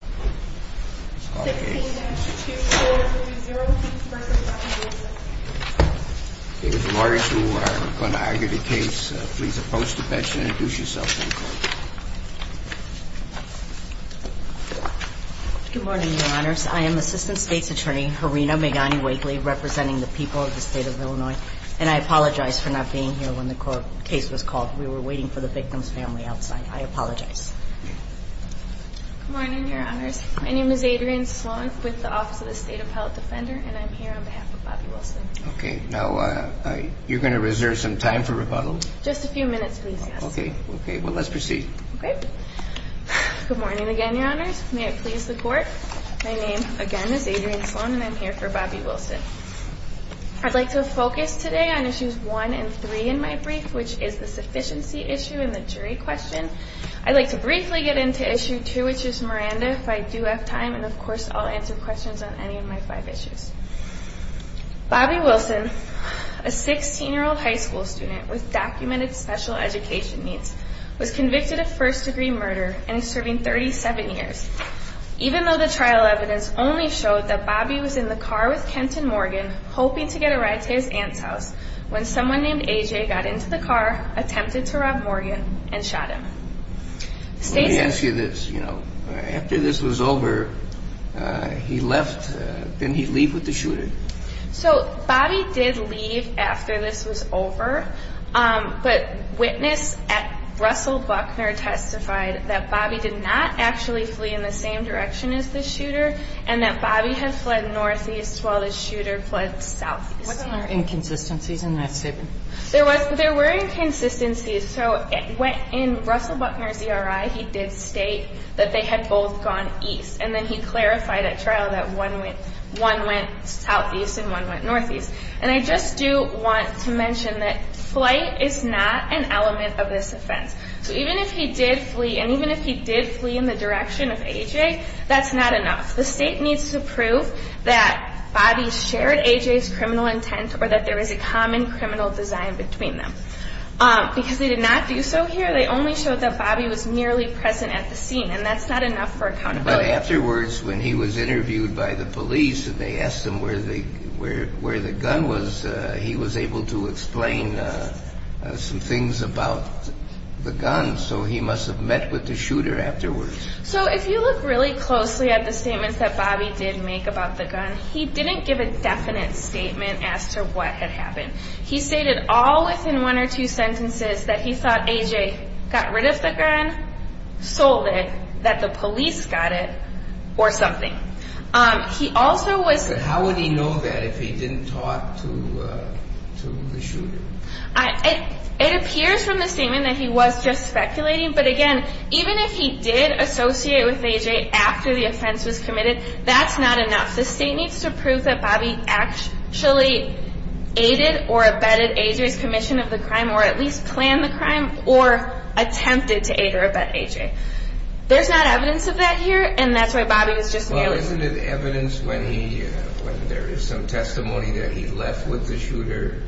Good morning, Your Honors. I am Assistant State's Attorney Harina Meghani-Wakely, representing the people of the state of Illinois, and I apologize for not being here when the case was called. We were waiting for the victim's family outside. I apologize. Good morning, Your Honors. My name is Adrienne Sloan with the Office of the State Appellate Defender, and I'm here on behalf of Bobby Wilson. Okay. Now, you're going to reserve some time for rebuttal? Just a few minutes, please, yes. Okay. Well, let's proceed. Okay. Good morning again, Your Honors. May it please the Court, my name again is Adrienne Sloan, and I'm here for Bobby Wilson. I'd like to focus today on Issues 1 and 3 in my brief, which is the sufficiency issue in the jury question. I'd like to briefly get into Issue 2, which is Miranda, if I do have time, and, of course, I'll answer questions on any of my five issues. Bobby Wilson, a 16-year-old high school student with documented special education needs, was convicted of first-degree murder and is serving 37 years. Even though the trial evidence only showed that Bobby was in the car with Kenton Morgan, hoping to get a ride to his aunt's house, when someone named A.J. got into the car, attempted to rob Morgan, and shot him. Let me ask you this, you know, after this was over, he left, didn't he leave with the shooter? So, Bobby did leave after this was over, but witness at Russell Buckner testified that Bobby did not actually flee in the same direction as the shooter, and that Bobby had fled northeast while the shooter fled southeast. Wasn't there inconsistencies in that statement? There were inconsistencies. So, in Russell Buckner's ERI, he did state that they had both gone east, and then he clarified at trial that one went southeast and one went northeast. And I just do want to mention that flight is not an element of this offense. So even if he did flee, and even if he did flee in the direction of A.J., that's not enough. The state needs to prove that Bobby shared A.J.'s criminal intent, or that there was a common criminal design between them. Because they did not do so here, they only showed that Bobby was merely present at the scene, and that's not enough for accountability. But afterwards, when he was interviewed by the police, and they asked him where the gun was, he was able to explain some things about the gun, so he must have met with the shooter afterwards. So if you look really closely at the statements that Bobby did make about the gun, he didn't give a definite statement as to what had happened. He stated all within one or two sentences that he thought A.J. got rid of the gun, sold it, that the police got it, or something. He also was... But how would he know that if he didn't talk to the shooter? It appears from the statement that he was just speculating, but again, even if he did associate with A.J. after the offense was committed, that's not enough. The state needs to prove that Bobby actually aided or abetted A.J.'s commission of the crime, or at least planned the crime, or attempted to aid or abet A.J. There's not evidence of that here, and that's why Bobby was just... So isn't it evidence when there is some testimony that he left with the shooter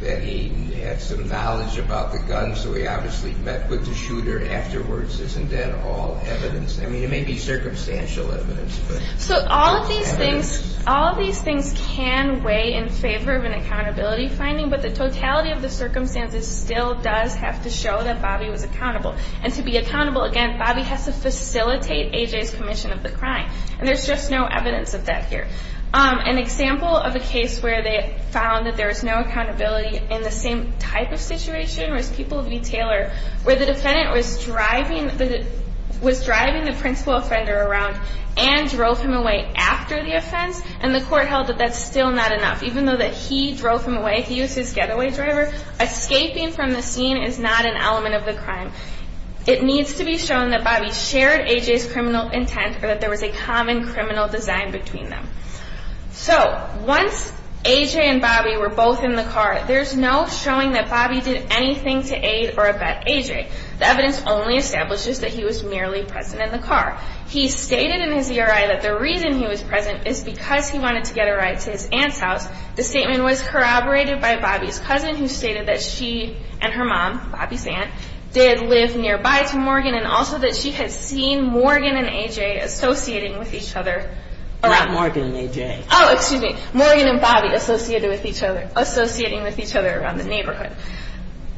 that he had some knowledge about the gun, so he obviously met with the shooter afterwards? Isn't that all evidence? I mean, it may be circumstantial evidence, but... So all of these things can weigh in favor of an accountability finding, but the totality of the circumstances still does have to show that Bobby was accountable. And to be accountable, again, Bobby has to facilitate A.J.'s commission of the crime. And there's just no evidence of that here. An example of a case where they found that there was no accountability in the same type of situation was People v. Taylor, where the defendant was driving the principal offender around and drove him away after the offense, and the court held that that's still not enough. Even though that he drove him away, he was his getaway driver, escaping from the scene is not an element of the crime. It needs to be shown that Bobby shared A.J.'s criminal intent or that there was a common criminal design between them. So once A.J. and Bobby were both in the car, there's no showing that Bobby did anything to aid or abet A.J. The evidence only establishes that he was merely present in the car. He stated in his ERI that the reason he was present is because he wanted to get a ride to his aunt's house. The statement was corroborated by Bobby's cousin, who stated that she and her mom, Bobby's aunt, did live nearby to Morgan and also that she had seen Morgan and A.J. associating with each other. Not Morgan and A.J. Oh, excuse me. Morgan and Bobby associating with each other around the neighborhood.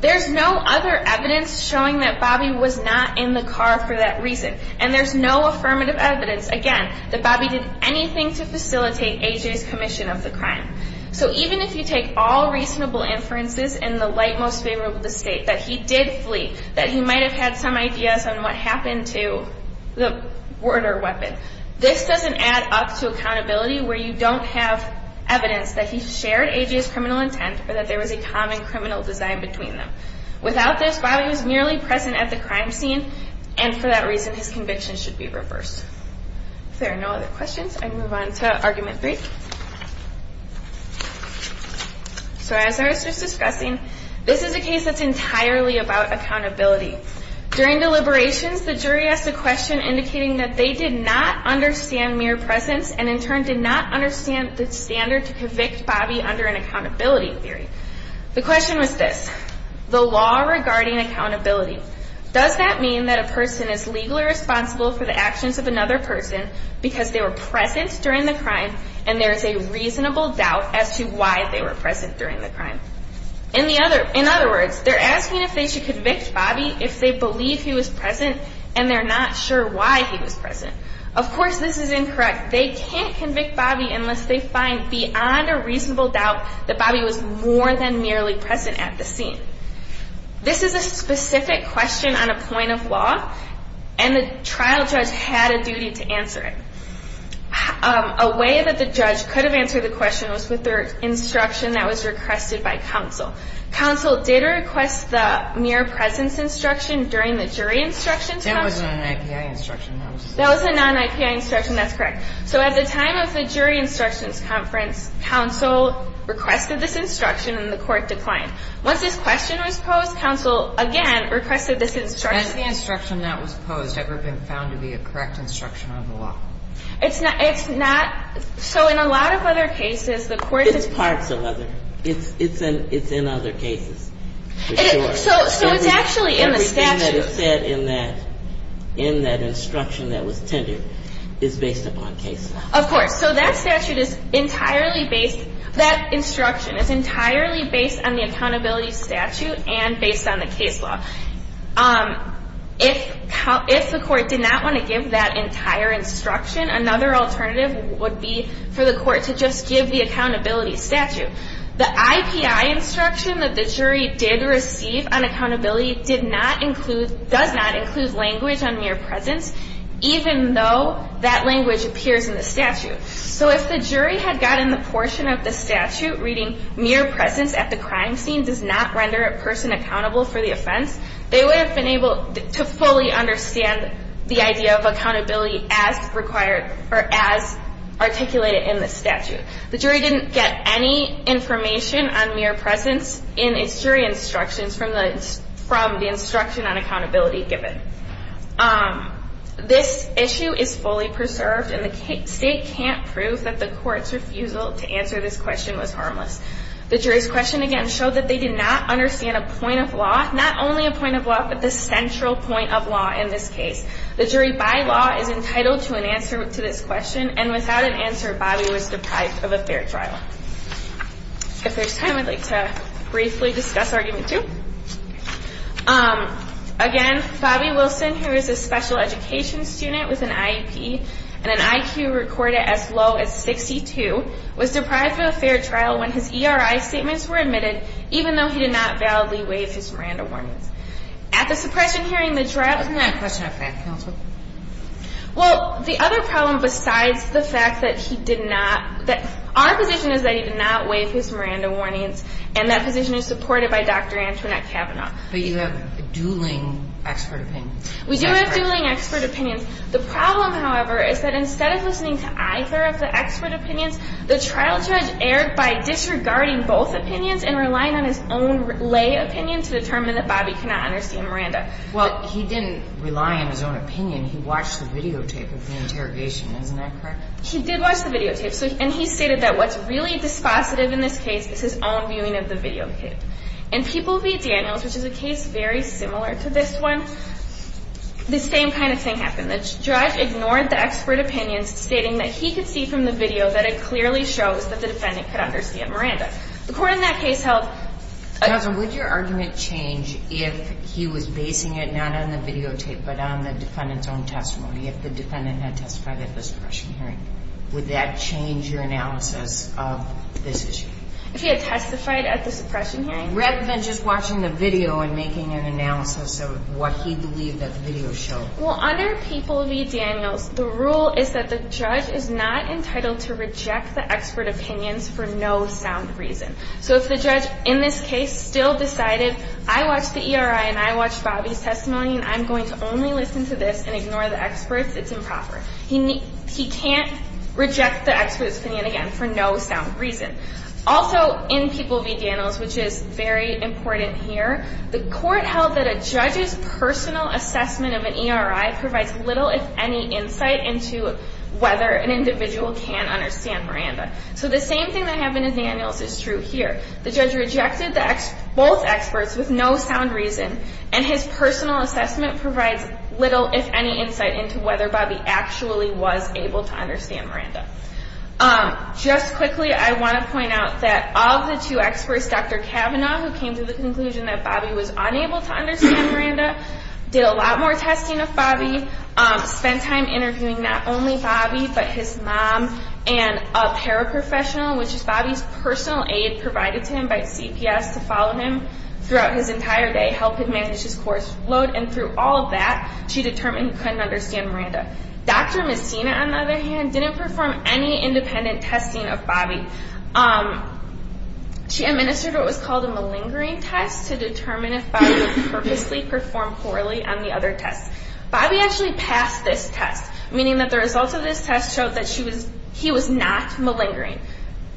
There's no other evidence showing that Bobby was not in the car for that reason. And there's no affirmative evidence, again, that Bobby did anything to facilitate A.J.'s commission of the crime. So even if you take all reasonable inferences in the light most favorable to state that he did flee, that he might have had some ideas on what happened to the murder weapon, this doesn't add up to accountability where you don't have evidence that he shared A.J.'s criminal intent or that there was a common criminal design between them. Without this, Bobby was merely present at the crime scene, and for that reason, his conviction should be reversed. If there are no other questions, I can move on to Argument 3. So as I was just discussing, this is a case that's entirely about accountability. During deliberations, the jury asked a question indicating that they did not understand mere presence and, in turn, did not understand the standard to convict Bobby under an accountability theory. The question was this, the law regarding accountability, does that mean that a person is legally responsible for the actions of another person because they were present during the crime and there is a reasonable doubt as to why they were present during the crime? In other words, they're asking if they should convict Bobby if they believe he was present and they're not sure why he was present. Of course, this is incorrect. They can't convict Bobby unless they find beyond a reasonable doubt that Bobby was more than merely present at the scene. This is a specific question on a point of law, and the trial judge had a duty to answer it. A way that the judge could have answered the question was with their instruction that was requested by counsel. Counsel did request the mere presence instruction during the jury instructions conference. That wasn't an IPI instruction. That was a non-IPI instruction. That's correct. So at the time of the jury instructions conference, counsel requested this instruction and the court declined. Once this question was posed, counsel, again, requested this instruction. Has the instruction that was posed ever been found to be a correct instruction of the law? It's not. So in a lot of other cases, the court has been. It's parts of other. It's in other cases, for sure. So it's actually in the statute. Everything that is said in that instruction that was tended is based upon case law. Of course. So that instruction is entirely based on the accountability statute and based on the case law. If the court did not want to give that entire instruction, another alternative would be for the court to just give the accountability statute. The IPI instruction that the jury did receive on accountability does not include language on mere presence, even though that language appears in the statute. So if the jury had gotten the portion of the statute reading mere presence at the crime scene does not render a person accountable for the offense, they would have been able to fully understand the idea of accountability as required or as articulated in the statute. The jury didn't get any information on mere presence in its jury instructions from the instruction on accountability given. This issue is fully preserved, and the state can't prove that the court's refusal to answer this question was harmless. The jury's question, again, showed that they did not understand a point of law, not only a point of law but the central point of law in this case. The jury by law is entitled to an answer to this question, and without an answer, Bobby was deprived of a fair trial. If there's time, I'd like to briefly discuss Argument 2. Again, Bobby Wilson, who is a special education student with an IEP and an IQ recorded as low as 62, was deprived of a fair trial when his ERI statements were admitted, even though he did not validly waive his Miranda warnings. At the suppression hearing, the jury- Wasn't that a question of fact, Counsel? Well, the other problem besides the fact that he did not- our position is that he did not waive his Miranda warnings, and that position is supported by Dr. Antoinette Kavanaugh. But you have a dueling expert opinion. We do have dueling expert opinions. The problem, however, is that instead of listening to either of the expert opinions, the trial judge erred by disregarding both opinions and relying on his own lay opinion to determine that Bobby cannot understand Miranda. Well, he didn't rely on his own opinion. He watched the videotape of the interrogation. Isn't that correct? He did watch the videotape, and he stated that what's really dispositive in this case is his own viewing of the videotape. In People v. Daniels, which is a case very similar to this one, the same kind of thing happened. The judge ignored the expert opinions, stating that he could see from the video that it clearly shows that the defendant could understand Miranda. The court in that case held- Counsel, would your argument change if he was basing it not on the videotape but on the defendant's own testimony, if the defendant had testified at this suppression hearing? Would that change your analysis of this issue? If he had testified at the suppression hearing? Rather than just watching the video and making an analysis of what he believed that the video showed. Well, under People v. Daniels, the rule is that the judge is not entitled to reject the expert opinions for no sound reason. So if the judge in this case still decided, I watched the ERI and I watched Bobby's testimony and I'm going to only listen to this and ignore the experts, it's improper. He can't reject the expert's opinion again for no sound reason. Also, in People v. Daniels, which is very important here, the court held that a judge's personal assessment of an ERI provides little, if any, insight into whether an individual can understand Miranda. So the same thing that happened in Daniels is true here. The judge rejected both experts with no sound reason and his personal assessment provides little, if any, insight into whether Bobby actually was able to understand Miranda. Just quickly, I want to point out that of the two experts, Dr. Cavanaugh, who came to the conclusion that Bobby was unable to understand Miranda, did a lot more testing of Bobby, spent time interviewing not only Bobby but his mom and a paraprofessional, which is Bobby's personal aide, provided to him by CPS to follow him throughout his entire day to help him manage his course load, and through all of that, she determined he couldn't understand Miranda. Dr. Messina, on the other hand, didn't perform any independent testing of Bobby. She administered what was called a malingering test to determine if Bobby purposely performed poorly on the other tests. Bobby actually passed this test, meaning that the results of this test showed that he was not malingering.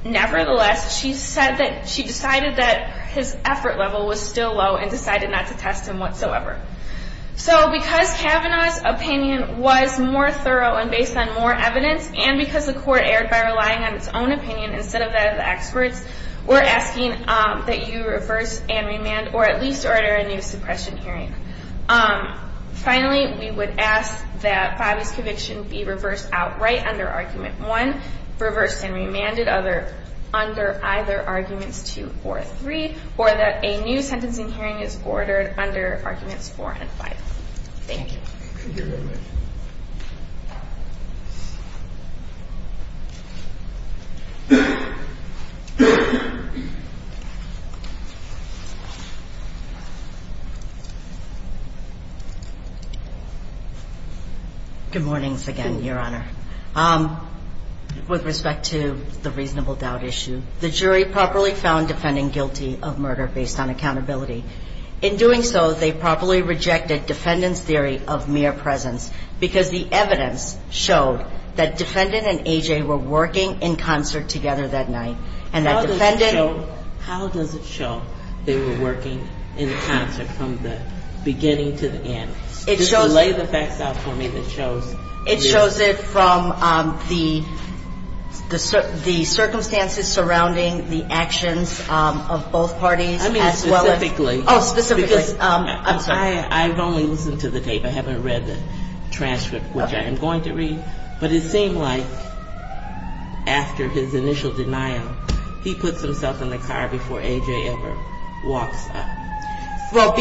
Nevertheless, she decided that his effort level was still low and decided not to test him whatsoever. So because Cavanaugh's opinion was more thorough and based on more evidence, and because the court erred by relying on its own opinion instead of that of the experts, we're asking that you reverse and remand or at least order a new suppression hearing. Finally, we would ask that Bobby's conviction be reversed outright under Argument 1, reversed and remanded under either Arguments 2 or 3, or that a new sentencing hearing is ordered under Arguments 4 and 5. Thank you. Thank you very much. Good morning again, Your Honor. With respect to the reasonable doubt issue, the jury properly found defendant guilty of murder based on accountability. In doing so, they properly rejected defendant's theory of mere presence because the evidence showed that defendant and A.J. were working in concert together that night and that defendant... How does it show they were working in concert from the beginning to the end? Just lay the facts out for me that shows... I mean, specifically... Oh, specifically. I'm sorry. I've only listened to the tape. I haven't read the transcript, which I am going to read, but it seemed like after his initial denial, he puts himself in the car before A.J. ever walks up. Well,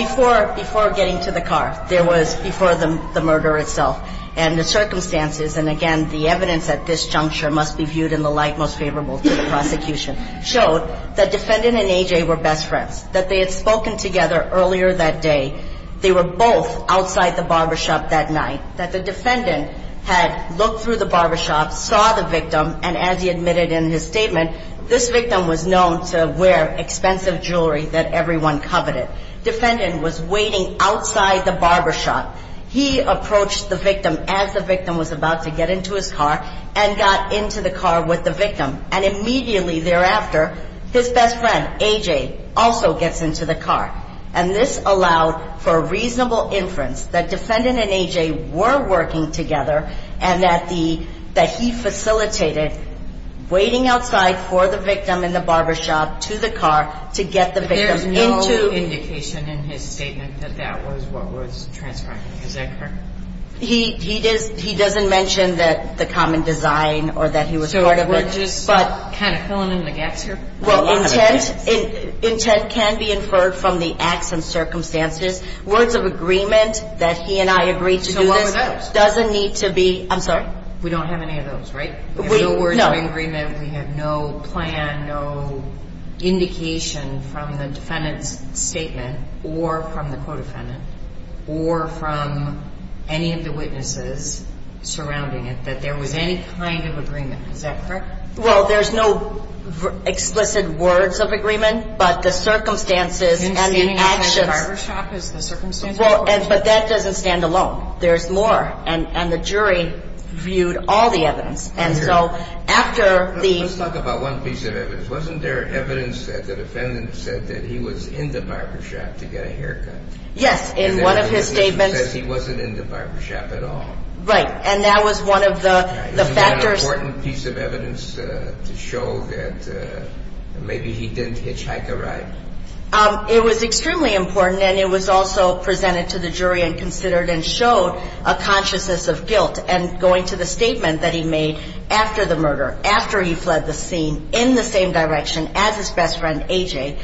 before getting to the car, there was before the murder itself, and the circumstances and, again, the evidence at this juncture must be viewed in the light most favorable to the prosecution. It showed that defendant and A.J. were best friends, that they had spoken together earlier that day. They were both outside the barbershop that night, that the defendant had looked through the barbershop, saw the victim, and as he admitted in his statement, this victim was known to wear expensive jewelry that everyone coveted. Defendant was waiting outside the barbershop. He approached the victim as the victim was about to get into his car and got into the car with the victim, and immediately thereafter, his best friend, A.J., also gets into the car. And this allowed for a reasonable inference that defendant and A.J. were working together and that he facilitated waiting outside for the victim in the barbershop to the car to get the victim into. But there's no indication in his statement that that was what was transcribed. Is that correct? He doesn't mention that the common design or that he was part of it. We're just kind of filling in the gaps here. Well, intent can be inferred from the acts and circumstances. Words of agreement that he and I agreed to do this doesn't need to be... So what were those? I'm sorry? We don't have any of those, right? No. We have no words of agreement. We have no plan, no indication from the defendant's statement or from the co-defendant or from any of the witnesses surrounding it that there was any kind of agreement. Is that correct? Well, there's no explicit words of agreement, but the circumstances and the actions... In standing outside the barbershop is the circumstances... Well, but that doesn't stand alone. There's more, and the jury viewed all the evidence. And so after the... Let's talk about one piece of evidence. Wasn't there evidence that the defendant said that he was in the barbershop to get a haircut? Yes, in one of his statements. And there was evidence that he said he wasn't in the barbershop at all. Right, and that was one of the factors... Is that an important piece of evidence to show that maybe he didn't hitchhike a ride? It was extremely important, and it was also presented to the jury and considered and showed a consciousness of guilt. And going to the statement that he made after the murder, after he fled the scene in the same direction as his best friend, A.J.,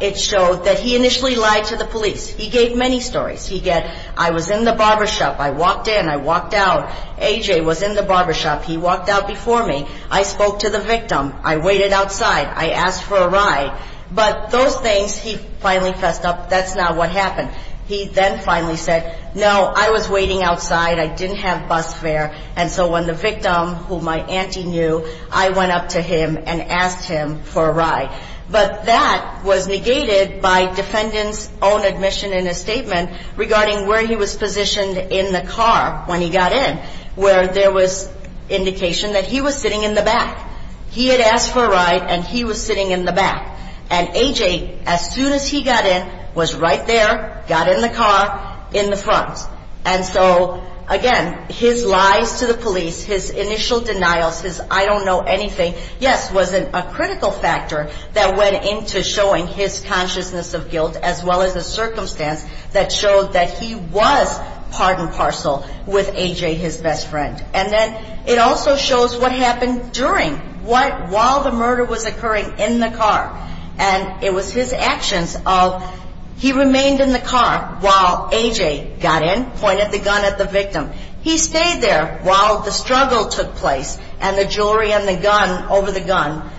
it showed that he initially lied to the police. He gave many stories. He'd get, I was in the barbershop. I walked in. I walked out. A.J. was in the barbershop. He walked out before me. I spoke to the victim. I waited outside. I asked for a ride. But those things, he finally fessed up, that's not what happened. He then finally said, no, I was waiting outside. I didn't have bus fare. And so when the victim, who my auntie knew, I went up to him and asked him for a ride. But that was negated by defendant's own admission in his statement regarding where he was positioned in the car when he got in, where there was indication that he was sitting in the back. He had asked for a ride, and he was sitting in the back. And A.J., as soon as he got in, was right there, got in the car, in the front. And so, again, his lies to the police, his initial denials, his I don't know anything, yes, was a critical factor that went into showing his consciousness of guilt as well as the circumstance that showed that he was part and parcel with A.J., his best friend. And then it also shows what happened during, while the murder was occurring in the car. And it was his actions of he remained in the car while A.J. got in, pointed the gun at the victim. He stayed there while the struggle took place and the jewelry and the gun, over the gun.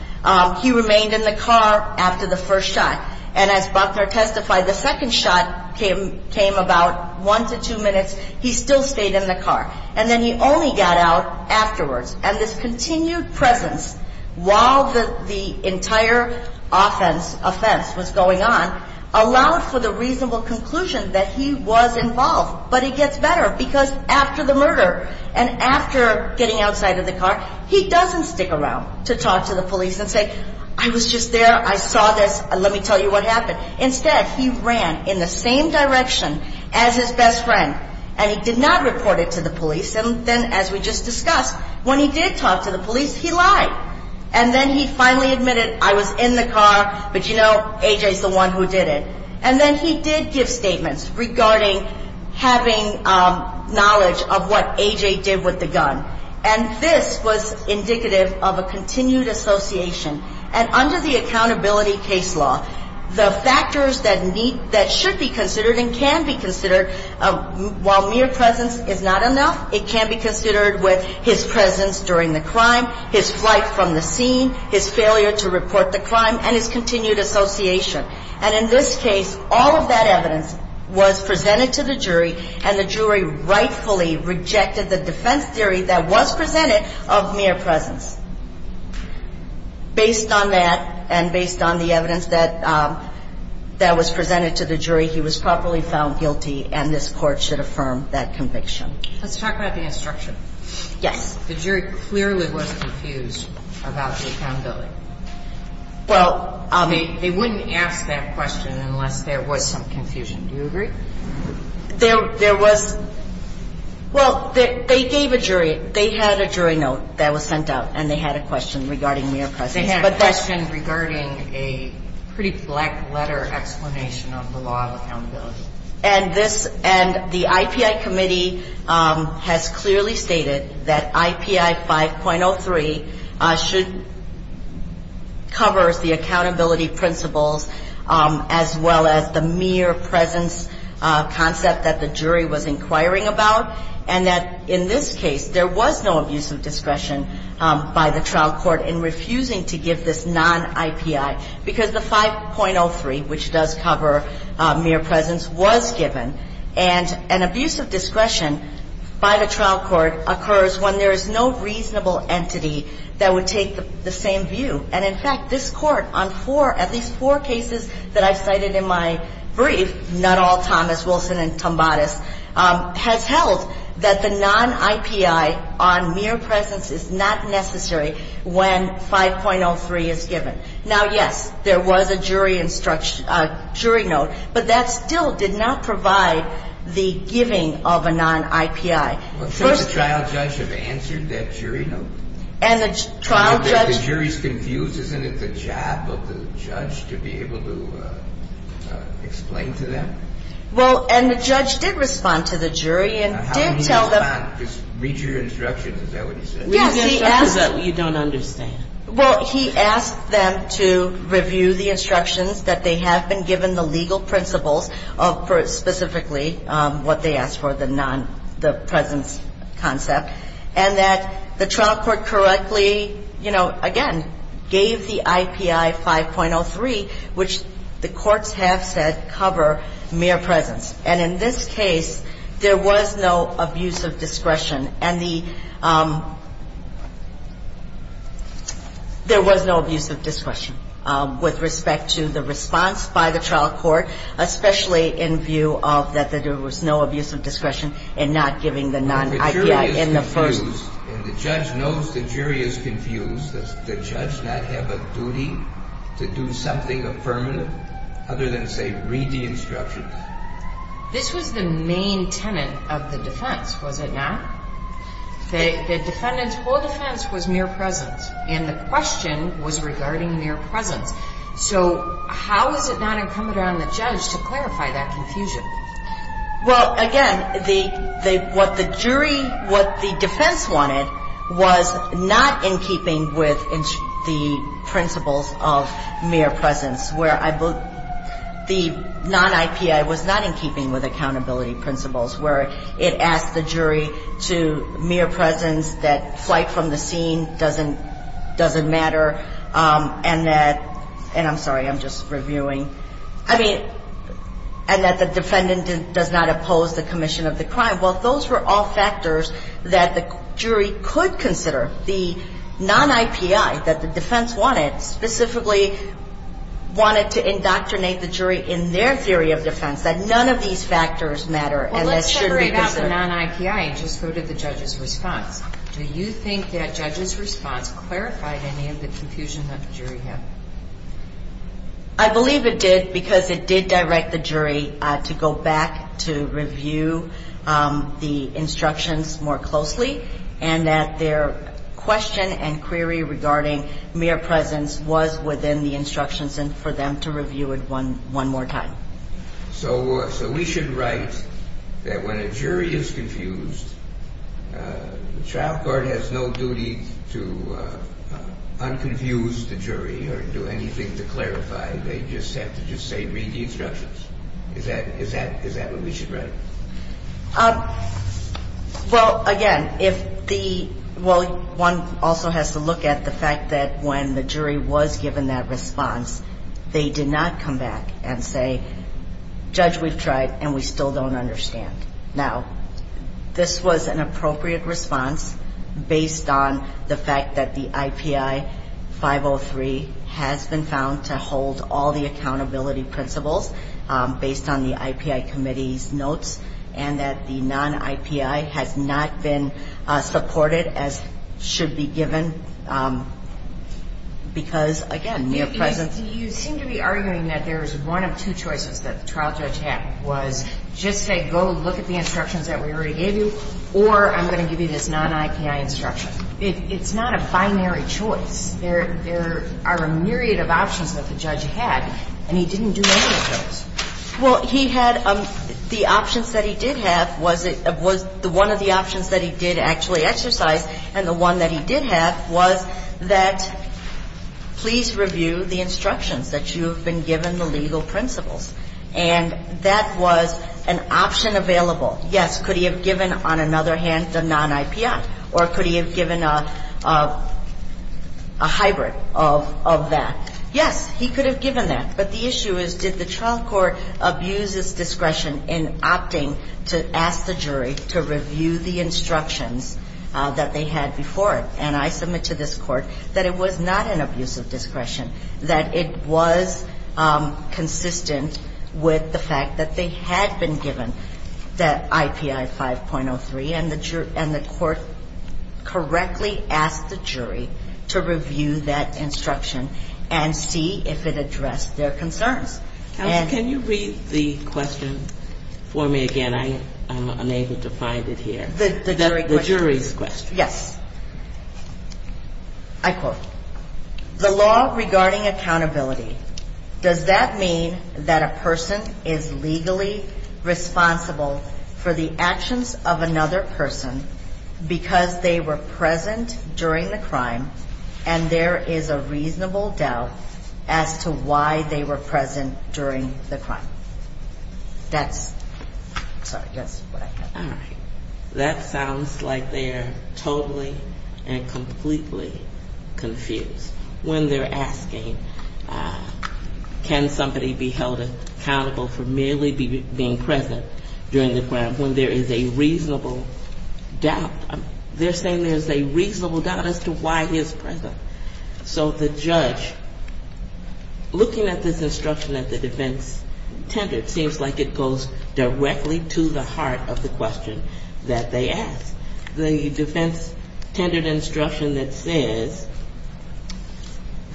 He remained in the car after the first shot. And as Buckner testified, the second shot came about one to two minutes. He still stayed in the car. And then he only got out afterwards. And this continued presence while the entire offense was going on allowed for the reasonable conclusion that he was involved. But it gets better because after the murder and after getting outside of the car, he doesn't stick around to talk to the police and say, I was just there, I saw this, let me tell you what happened. Instead, he ran in the same direction as his best friend. And he did not report it to the police. And then, as we just discussed, when he did talk to the police, he lied. And then he finally admitted, I was in the car, but you know, A.J. is the one who did it. And then he did give statements regarding having knowledge of what A.J. did with the gun. And this was indicative of a continued association. And under the accountability case law, the factors that should be considered and can be considered, while mere presence is not enough, it can be considered with his presence during the crime, his flight from the scene, his failure to report the crime, and his continued association. And in this case, all of that evidence was presented to the jury, and the jury rightfully rejected the defense theory that was presented of mere presence. Based on that and based on the evidence that was presented to the jury, he was properly found guilty, and this Court should affirm that conviction. Let's talk about the instruction. Yes. The jury clearly was confused about the accountability. They wouldn't ask that question unless there was some confusion. Do you agree? There was. Well, they gave a jury. They had a jury note that was sent out, and they had a question regarding mere presence. They had a question regarding a pretty black letter explanation of the law of accountability. And the IPI committee has clearly stated that IPI 5.03 should cover the accountability principles as well as the mere presence concept that the jury was inquiring about, and that in this case there was no abuse of discretion by the trial court in refusing to give this non-IPI because the 5.03, which does cover mere presence, was given, and an abuse of discretion by the trial court occurs when there is no reasonable entity that would take the same view. And, in fact, this Court on four, at least four cases that I've cited in my brief, not all Thomas, Wilson, and Tombatis, has held that the non-IPI on mere presence is not necessary when 5.03 is given. Now, yes, there was a jury note, but that still did not provide the giving of a non-IPI. Well, shouldn't the trial judge have answered that jury note? And the trial judge – The jury's confused. Isn't it the job of the judge to be able to explain to them? Well, and the judge did respond to the jury and did tell them – How did he respond? Just read your instructions. Is that what he said? Yes, he asked – Read your instructions. You don't understand. Well, he asked them to review the instructions that they have been given the legal principles of specifically what they asked for, the non – the presence concept, and that the trial court correctly, you know, again, gave the IPI 5.03, which the courts have said cover mere presence. And in this case, there was no abuse of discretion. And the – there was no abuse of discretion with respect to the response by the trial court, especially in view of that there was no abuse of discretion in not giving the non-IPI in the first – Well, the jury is confused, and the judge knows the jury is confused. Does the judge not have a duty to do something affirmative other than, say, read the instructions? This was the main tenet of the defense, was it not? The defendant's whole defense was mere presence, and the question was regarding mere presence. So how is it not incumbent on the judge to clarify that confusion? Well, again, the – what the jury – what the defense wanted was not in keeping with the principles of mere presence, where the non-IPI was not in keeping with accountability principles, where it asked the jury to mere presence, that flight from the scene doesn't matter, and that – and I'm sorry, I'm just reviewing. I mean, and that the defendant does not oppose the commission of the crime. Well, those were all factors that the jury could consider. The non-IPI that the defense wanted specifically wanted to indoctrinate the jury in their theory of defense, that none of these factors matter and that should be considered. Well, let's separate out the non-IPI and just go to the judge's response. Do you think that judge's response clarified any of the confusion that the jury had? I believe it did because it did direct the jury to go back to review the instructions more closely and that their question and query regarding mere presence was within the instructions and for them to review it one more time. So we should write that when a jury is confused, the child court has no duty to unconfuse the jury or do anything to clarify. They just have to just say, read the instructions. Is that what we should write? Well, again, if the one also has to look at the fact that when the jury was given that response, they did not come back and say, judge, we've tried and we still don't understand. Now, this was an appropriate response based on the fact that the IPI 503 has been found to hold all the accountability principles based on the IPI committee's notes and that the non-IPI has not been supported as should be given because, again, mere presence. You seem to be arguing that there's one of two choices that the trial judge had was just say, go look at the instructions that we already gave you or I'm going to give you this non-IPI instruction. It's not a binary choice. There are a myriad of options that the judge had and he didn't do any of those. Well, he had the options that he did have was the one of the options that he did actually exercise and the one that he did have was that please review the instructions that you have been given the legal principles. And that was an option available. Yes, could he have given, on another hand, the non-IPI? Or could he have given a hybrid of that? Yes, he could have given that. But the issue is did the trial court abuse its discretion in opting to ask the jury to review the instructions that they had before it? And I submit to this court that it was not an abuse of discretion, that it was consistent with the fact that they had been given that IPI 5.03 and the court correctly asked the jury to review that instruction and see if it addressed their concerns. Counsel, can you read the question for me again? I'm unable to find it here. The jury question. The jury's question. Yes. I quote, the law regarding accountability. Does that mean that a person is legally responsible for the actions of another person because they were present during the crime and there is a reasonable doubt as to why they were present during the crime? That's, sorry, that's what I thought. All right. That sounds like they are totally and completely confused when they're asking, can somebody be held accountable for merely being present during the crime when there is a reasonable doubt? They're saying there's a reasonable doubt as to why he is present. So the judge, looking at this instruction that the defense tendered, seems like it goes directly to the heart of the question that they asked. The defense tendered instruction that says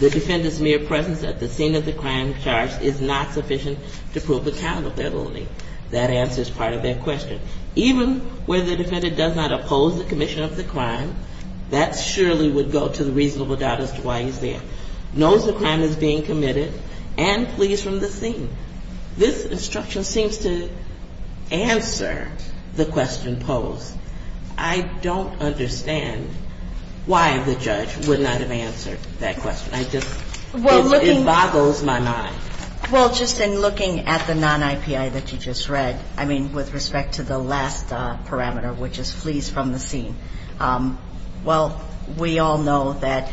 the defendant's mere presence at the scene of the crime charge is not sufficient to prove accountability. That answers part of their question. Even where the defendant does not oppose the commission of the crime, that surely would go to the reasonable doubt as to why he's there. Knows the crime is being committed and flees from the scene. This instruction seems to answer the question posed. I don't understand why the judge would not have answered that question. I just, it boggles my mind. Well, just in looking at the non-IPI that you just read, I mean, with respect to the last parameter, which is flees from the scene, well, we all know that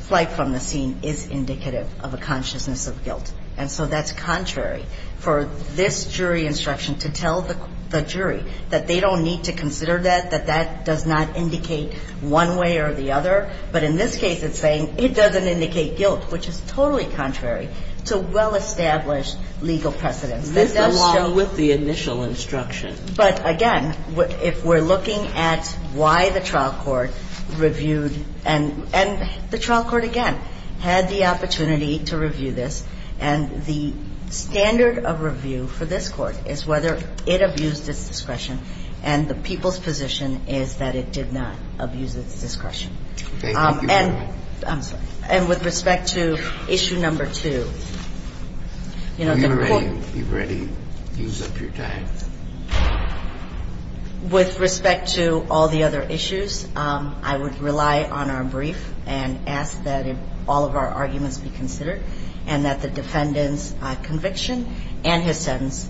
flight from the scene is indicative of a consciousness of guilt. And so that's contrary for this jury instruction to tell the jury that they don't need to consider that, that that does not indicate one way or the other. But in this case, it's saying it doesn't indicate guilt, which is totally contrary to well-established legal precedence. This, along with the initial instruction. But again, if we're looking at why the trial court reviewed, and the trial court, again, had the opportunity to review this, and the standard of review for this court is whether it abused its discretion, and the people's position is that it did not abuse its discretion. Thank you, Your Honor. I'm sorry. And with respect to issue number two, you know, the court You've already used up your time. With respect to all the other issues, I would rely on our brief and ask that all of our arguments be considered, and that the defendant's conviction and his sentence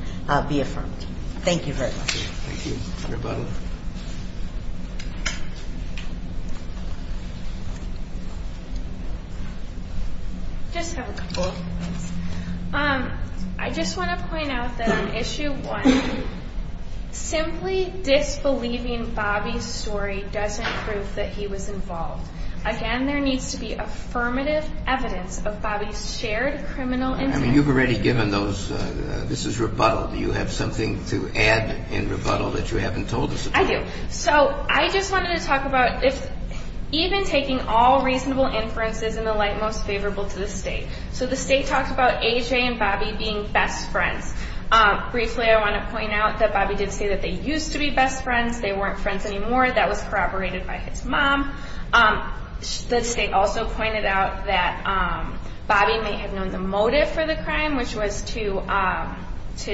be affirmed. Thank you very much. Thank you, Your Honor. I just have a couple of points. I just want to point out that on issue one, simply disbelieving Bobby's story doesn't prove that he was involved. Again, there needs to be affirmative evidence of Bobby's shared criminal intent. I mean, you've already given those. This is rebuttal. Do you have something to add in rebuttal that you haven't told us about? I do. So I just wanted to talk about if even taking all reasonable inferences in the light most favorable to the State. So the State talked about A.J. and Bobby being best friends. Briefly, I want to point out that Bobby did say that they used to be best friends. They weren't friends anymore. That was corroborated by his mom. The State also pointed out that Bobby may have known the motive for the crime, which was to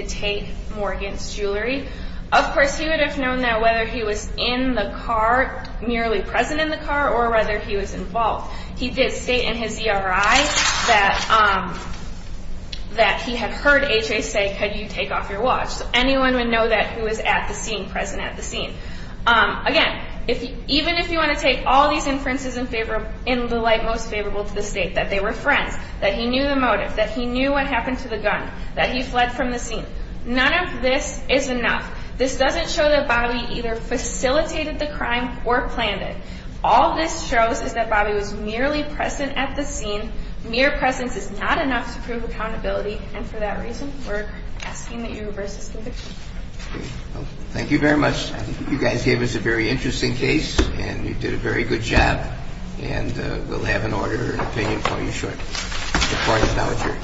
take Morgan's jewelry. Of course, he would have known that whether he was in the car, merely present in the car, or whether he was involved. He did state in his ERI that he had heard A.J. say, could you take off your watch? So anyone would know that he was at the scene, present at the scene. Again, even if you want to take all these inferences in the light most favorable to the State, that they were friends, that he knew the motive, that he knew what happened to the gun, that he fled from the scene, none of this is enough. This doesn't show that Bobby either facilitated the crime or planned it. All this shows is that Bobby was merely present at the scene. Mere presence is not enough to prove accountability, and for that reason we're asking that you reverse this conviction. Thank you very much. I think you guys gave us a very interesting case, and you did a very good job, and we'll have an order and opinion for you shortly. The court is now adjourned.